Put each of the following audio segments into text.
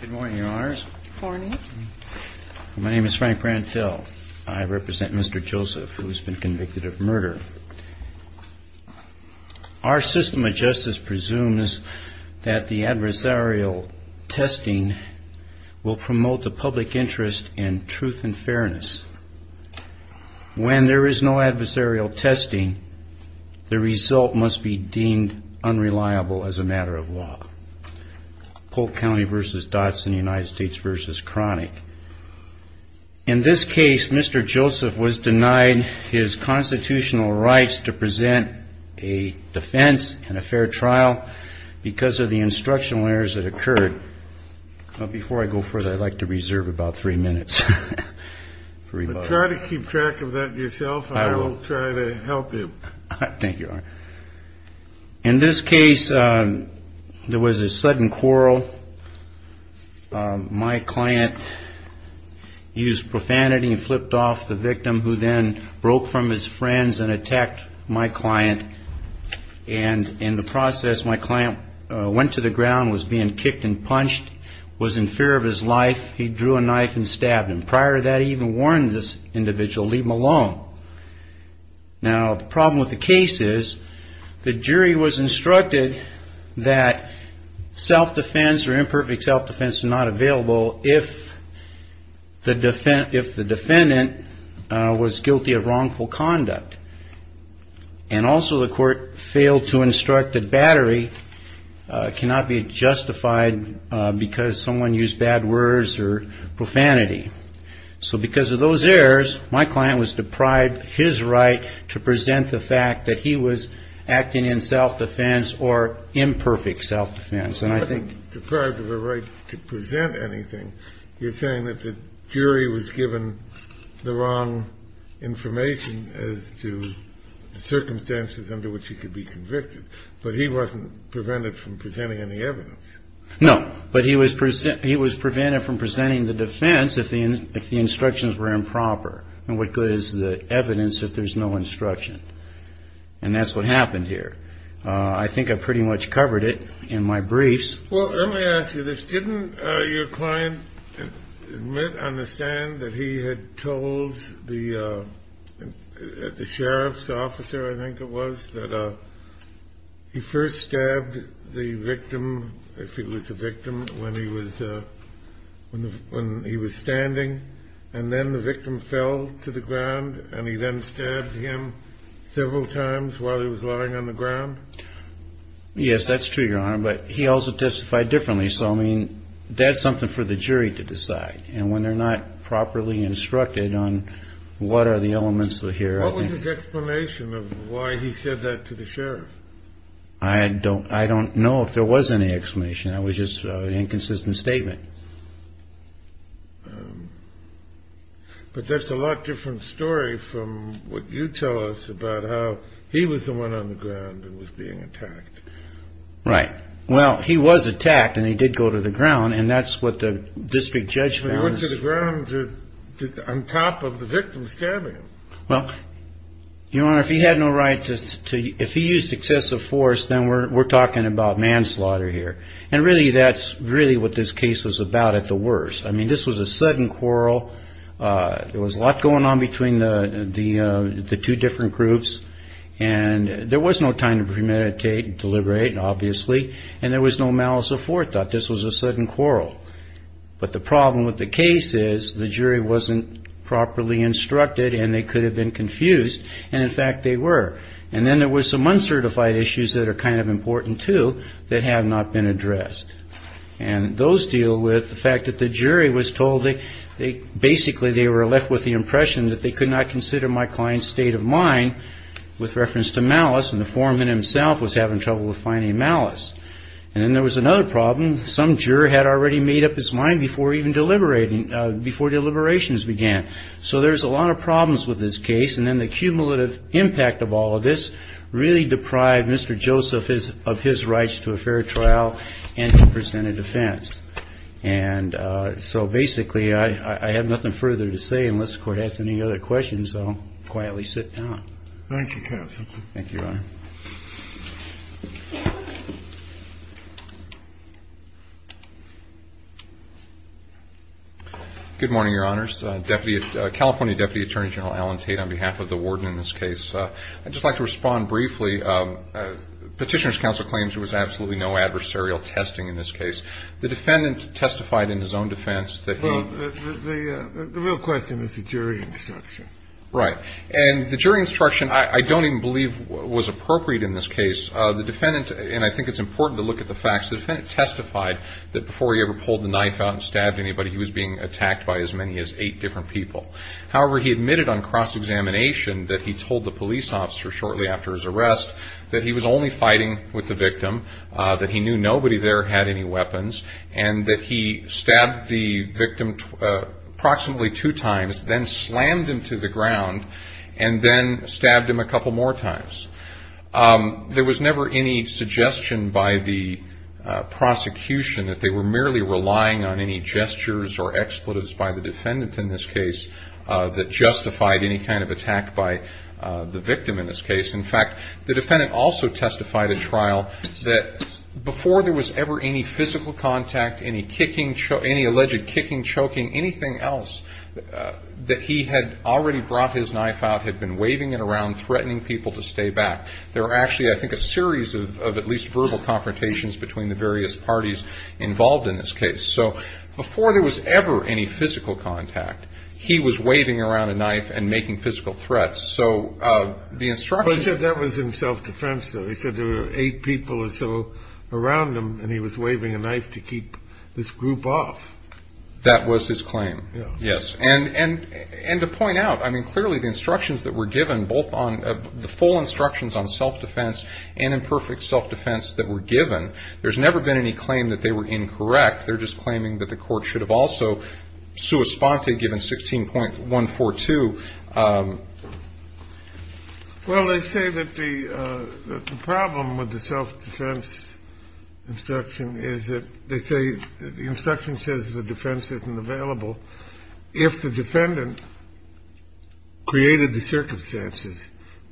Good morning, Your Honors. Good morning. My name is Frank Brantill. I represent Mr. Joseph, who has been convicted of murder. Our system of justice presumes that the adversarial testing will promote the public interest in truth and fairness. When there is no adversarial testing, the result must be deemed unreliable as a matter of law. Polk County v. Dodson, United States v. Cronick. In this case, Mr. Joseph was denied his constitutional rights to present a defense and a fair trial because of the instructional errors that occurred. Before I go further, I'd like to reserve about three minutes. Try to keep track of that yourself. I will try to help you. Thank you. In this case, there was a sudden quarrel. My client used profanity and flipped off the victim who then broke from his friends and attacked my client. And in the process, my client went to the ground, was being kicked and punched, was in fear of his life. He drew a knife and stabbed him. Prior to that, he even warned this individual, leave him alone. Now, the problem with the case is the jury was instructed that self-defense or imperfect self-defense is not available if the defendant was guilty of wrongful conduct. And also the court failed to instruct that battery cannot be justified because someone used bad words or profanity. So because of those errors, my client was deprived his right to present the fact that he was acting in self-defense or imperfect self-defense. And I think deprived of the right to present anything. You're saying that the jury was given the wrong information as to the circumstances under which he could be convicted. But he wasn't prevented from presenting any evidence. No, but he was present. He was prevented from presenting the defense if the if the instructions were improper. And what good is the evidence if there's no instruction? And that's what happened here. I think I pretty much covered it in my briefs. Well, let me ask you this. Didn't your client admit on the stand that he had told the sheriff's officer? I think it was that he first stabbed the victim. If he was a victim when he was when he was standing and then the victim fell to the ground and he then stabbed him several times while he was lying on the ground. Yes, that's true, Your Honor. But he also testified differently. So, I mean, that's something for the jury to decide. And when they're not properly instructed on what are the elements that here. What was his explanation of why he said that to the sheriff? I don't I don't know if there was any explanation. I was just an inconsistent statement. But that's a lot different story from what you tell us about how he was the one on the ground and was being attacked. Right. Well, he was attacked and he did go to the ground. And that's what the district judge went to the ground on top of the victim stabbing. Well, you know, if he had no right to if he used excessive force, then we're talking about manslaughter here. And really, that's really what this case was about at the worst. I mean, this was a sudden quarrel. It was a lot going on between the two different groups. And there was no time to premeditate and deliberate, obviously. And there was no malice of fourth thought. This was a sudden quarrel. But the problem with the case is the jury wasn't properly instructed and they could have been confused. And in fact, they were. And then there was some uncertified issues that are kind of important, too, that have not been addressed. And those deal with the fact that the jury was told they basically they were left with the impression that they could not consider my client's state of mind with reference to malice. And the foreman himself was having trouble with finding malice. And then there was another problem. Some juror had already made up his mind before even deliberating before deliberations began. So there's a lot of problems with this case. And then the cumulative impact of all of this really deprived Mr. Joseph is of his rights to a fair trial and to present a defense. And so basically, I have nothing further to say unless the court has any other questions. So quietly sit down. Thank you. Thank you. Good morning, Your Honors. Deputy California Deputy Attorney General Alan Tate on behalf of the warden in this case. I'd just like to respond briefly. Petitioner's counsel claims there was absolutely no adversarial testing in this case. The defendant testified in his own defense that the real question is the jury instruction. Right. And the jury instruction, I don't even believe was appropriate in this case. The defendant. And I think it's important to look at the facts. The defendant testified that before he ever pulled the knife out and stabbed anybody, he was being attacked by as many as eight different people. However, he admitted on cross-examination that he told the police officer shortly after his arrest that he was only fighting with the victim, that he knew nobody there had any weapons and that he stabbed the victim approximately two times, then slammed him to the ground and then stabbed him a couple more times. There was never any suggestion by the prosecution that they were merely relying on any gestures or expletives by the defendant in this case that justified any kind of attack by the victim in this case. In fact, the defendant also testified at trial that before there was ever any physical contact, any kicking, any alleged kicking, choking, anything else that he had already brought his knife out, had been waving it around, threatening people to stay back. There were actually, I think, a series of at least verbal confrontations between the various parties involved in this case. So before there was ever any physical contact, he was waving around a knife and making physical threats. But he said that was in self-defense, though. He said there were eight people or so around him and he was waving a knife to keep this group off. That was his claim, yes. And to point out, I mean, clearly the instructions that were given, both the full instructions on self-defense and imperfect self-defense that were given, there's never been any claim that they were incorrect. They're just claiming that the court should have also sua sponte given 16.142. Well, they say that the problem with the self-defense instruction is that they say the instruction says the defense isn't available if the defendant created the circumstances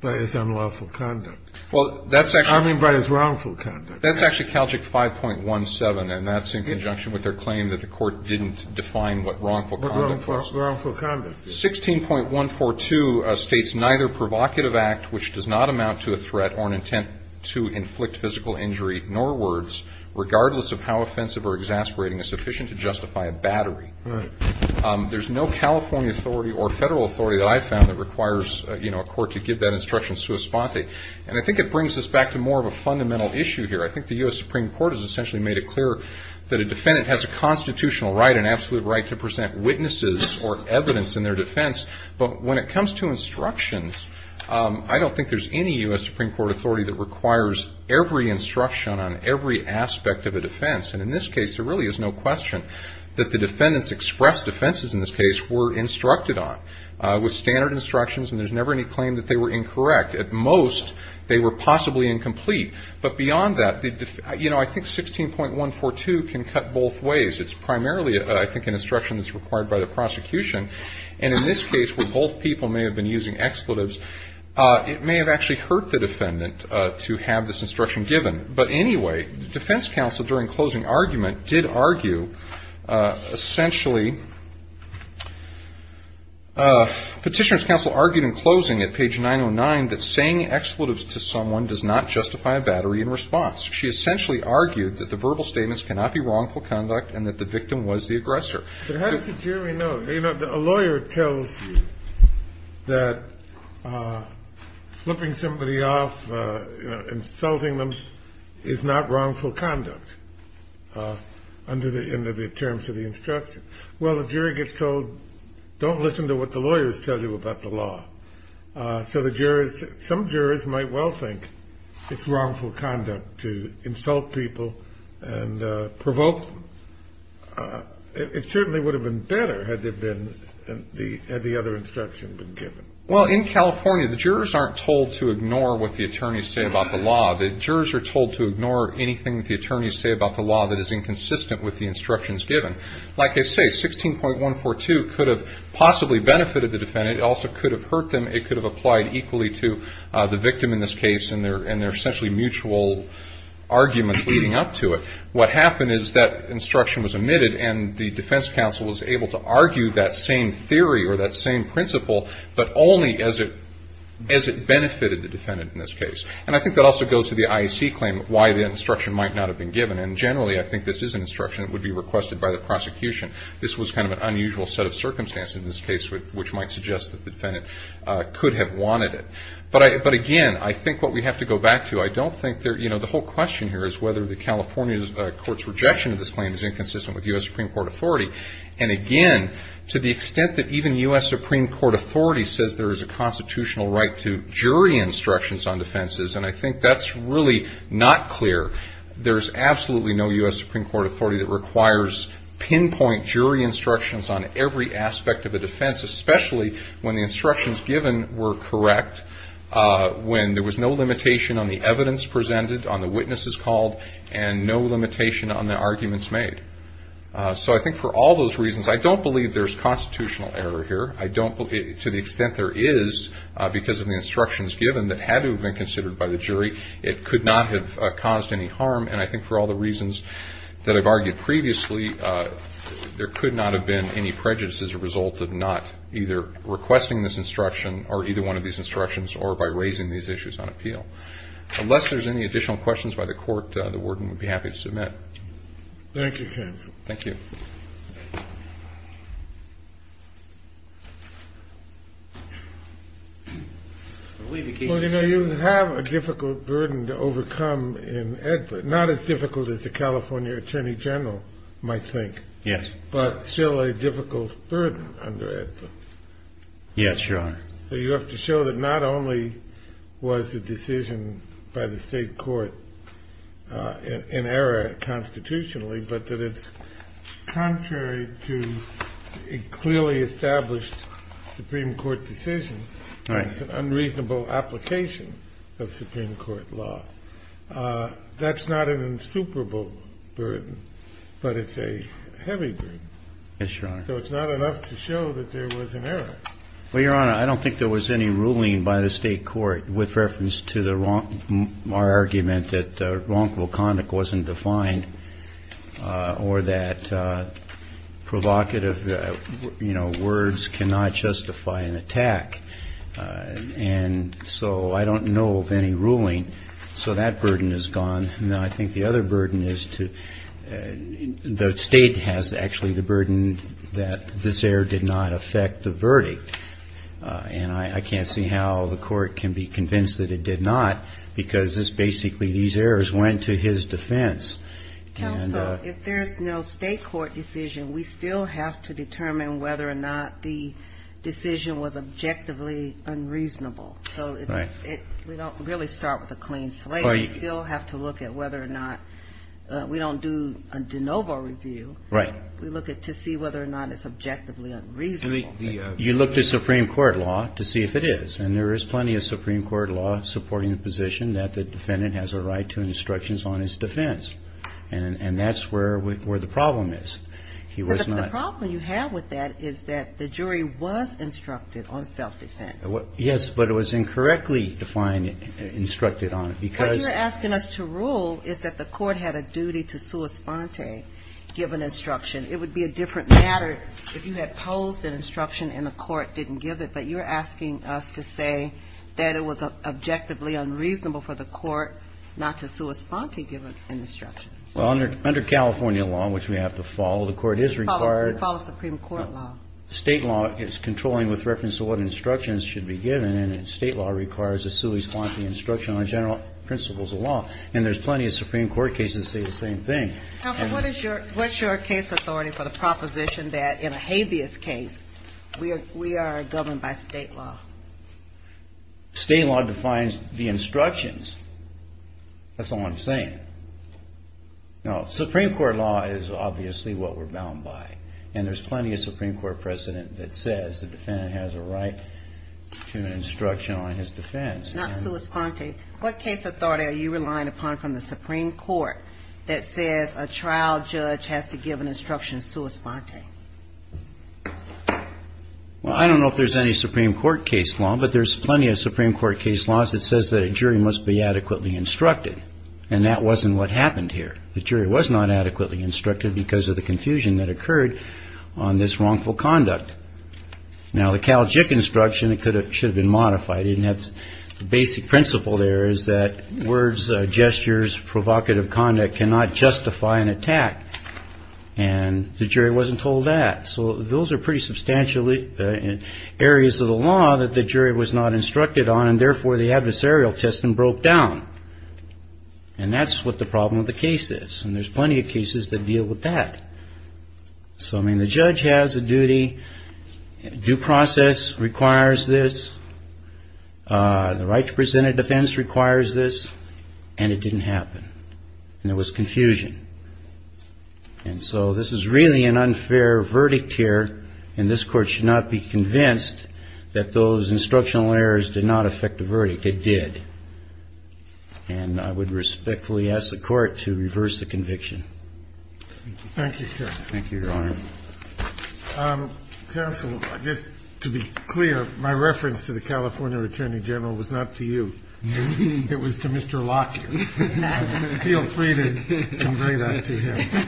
by his unlawful conduct. Well, that's actually. I mean, by his wrongful conduct. That's actually CALJIC 5.17, and that's in conjunction with their claim that the court didn't define what wrongful conduct was. What wrongful conduct? 16.142 states, neither provocative act, which does not amount to a threat or an intent to inflict physical injury, nor words, regardless of how offensive or exasperating, is sufficient to justify a battery. There's no California authority or federal authority that I've found that requires a court to give that instruction sua sponte. And I think it brings us back to more of a fundamental issue here. I think the U.S. Supreme Court has essentially made it clear that a defendant has a constitutional right, an absolute right, to present witnesses or evidence in their defense. But when it comes to instructions, I don't think there's any U.S. Supreme Court authority that requires every instruction on every aspect of a defense. And in this case, there really is no question that the defendants' express defenses in this case were instructed on with standard instructions, and there's never any claim that they were incorrect. At most, they were possibly incomplete. But beyond that, you know, I think 16.142 can cut both ways. It's primarily, I think, an instruction that's required by the prosecution. And in this case, where both people may have been using expletives, it may have actually hurt the defendant to have this instruction given. But anyway, the defense counsel during closing argument did argue, essentially, Petitioner's counsel argued in closing at page 909 that saying expletives to someone does not justify a battery in response. She essentially argued that the verbal statements cannot be wrongful conduct and that the victim was the aggressor. But how does the jury know? A lawyer tells you that flipping somebody off, insulting them, is not wrongful conduct under the terms of the instruction. Well, the jury gets told, don't listen to what the lawyers tell you about the law. So the jurors, some jurors might well think it's wrongful conduct to insult people and provoke them. It certainly would have been better had the other instruction been given. Well, in California, the jurors aren't told to ignore what the attorneys say about the law. The jurors are told to ignore anything that the attorneys say about the law that is inconsistent with the instructions given. Like I say, 16.142 could have possibly benefited the defendant. It also could have hurt them. It could have applied equally to the victim in this case and their essentially mutual arguments leading up to it. What happened is that instruction was omitted and the defense counsel was able to argue that same theory or that same principle, but only as it benefited the defendant in this case. And I think that also goes to the IAC claim why the instruction might not have been given. And generally, I think this is an instruction that would be requested by the prosecution. This was kind of an unusual set of circumstances in this case, which might suggest that the defendant could have wanted it. But, again, I think what we have to go back to, I don't think there, you know, the whole question here is whether the California court's rejection of this claim is inconsistent with U.S. Supreme Court authority. And, again, to the extent that even U.S. Supreme Court authority says there is a constitutional right to jury instructions on defenses, and I think that's really not clear. There's absolutely no U.S. Supreme Court authority that requires pinpoint jury instructions on every aspect of a defense, especially when the instructions given were correct, when there was no limitation on the evidence presented, on the witnesses called, and no limitation on the arguments made. So I think for all those reasons, I don't believe there's constitutional error here. To the extent there is, because of the instructions given that had to have been considered by the jury, it could not have caused any harm. And I think for all the reasons that I've argued previously, there could not have been any prejudice as a result of not either requesting this instruction, or either one of these instructions, or by raising these issues on appeal. Unless there's any additional questions by the court, the warden would be happy to submit. Thank you, counsel. Thank you. Well, you know, you have a difficult burden to overcome in Edward. Not as difficult as the California Attorney General might think. Yes. But still a difficult burden under Edward. Yes, Your Honor. So you have to show that not only was the decision by the State court in error constitutionally, but that it's contrary to a clearly established Supreme Court decision. Right. It's an unreasonable application of Supreme Court law. That's not an insuperable burden, but it's a heavy burden. Yes, Your Honor. So it's not enough to show that there was an error. Well, Your Honor, I don't think there was any ruling by the State court with reference to our argument that wrongful conduct wasn't defined, or that provocative words cannot justify an attack. And so I don't know of any ruling. So that burden is gone. No, I think the other burden is to the State has actually the burden that this error did not affect the verdict. And I can't see how the court can be convinced that it did not because this basically these errors went to his defense. Counsel, if there is no State court decision, we still have to determine whether or not the decision was objectively unreasonable. Right. So we don't really start with a clean slate. We still have to look at whether or not we don't do a de novo review. Right. We look to see whether or not it's objectively unreasonable. You look to Supreme Court law to see if it is. And there is plenty of Supreme Court law supporting the position that the defendant has a right to instructions on his defense. And that's where the problem is. The problem you have with that is that the jury was instructed on self-defense. Yes, but it was incorrectly defined, instructed on it. What you're asking us to rule is that the court had a duty to sua sponte, give an instruction. It would be a different matter if you had posed an instruction and the court didn't give it. But you're asking us to say that it was objectively unreasonable for the court not to sua sponte, give an instruction. Well, under California law, which we have to follow, the court is required to follow Supreme Court law. State law is controlling with reference to what instructions should be given. And state law requires a sua sponte instruction on general principles of law. And there's plenty of Supreme Court cases that say the same thing. Counsel, what's your case authority for the proposition that in a habeas case we are governed by state law? State law defines the instructions. That's all I'm saying. Now, Supreme Court law is obviously what we're bound by. And there's plenty of Supreme Court precedent that says the defendant has a right to an instruction on his defense. Not sua sponte. What case authority are you relying upon from the Supreme Court that says a trial judge has to give an instruction sua sponte? Well, I don't know if there's any Supreme Court case law, but there's plenty of Supreme Court case laws that says that a jury must be adequately instructed. And that wasn't what happened here. The jury was not adequately instructed because of the confusion that occurred on this wrongful conduct. Now, the Cal JIC instruction, it should have been modified. It didn't have the basic principle there is that words, gestures, provocative conduct cannot justify an attack. And the jury wasn't told that. So those are pretty substantially areas of the law that the jury was not instructed on. And therefore, the adversarial testing broke down. And that's what the problem with the case is. And there's plenty of cases that deal with that. So, I mean, the judge has a duty. Due process requires this. The right to present a defense requires this. And it didn't happen. And there was confusion. And so this is really an unfair verdict here. And this Court should not be convinced that those instructional errors did not affect the verdict. It did. And I would respectfully ask the Court to reverse the conviction. Thank you. Thank you, Your Honor. Counsel, just to be clear, my reference to the California Attorney General was not to you. It was to Mr. Locke. Feel free to convey that to him.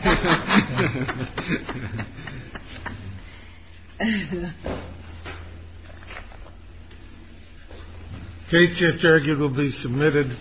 Case just arguably submitted.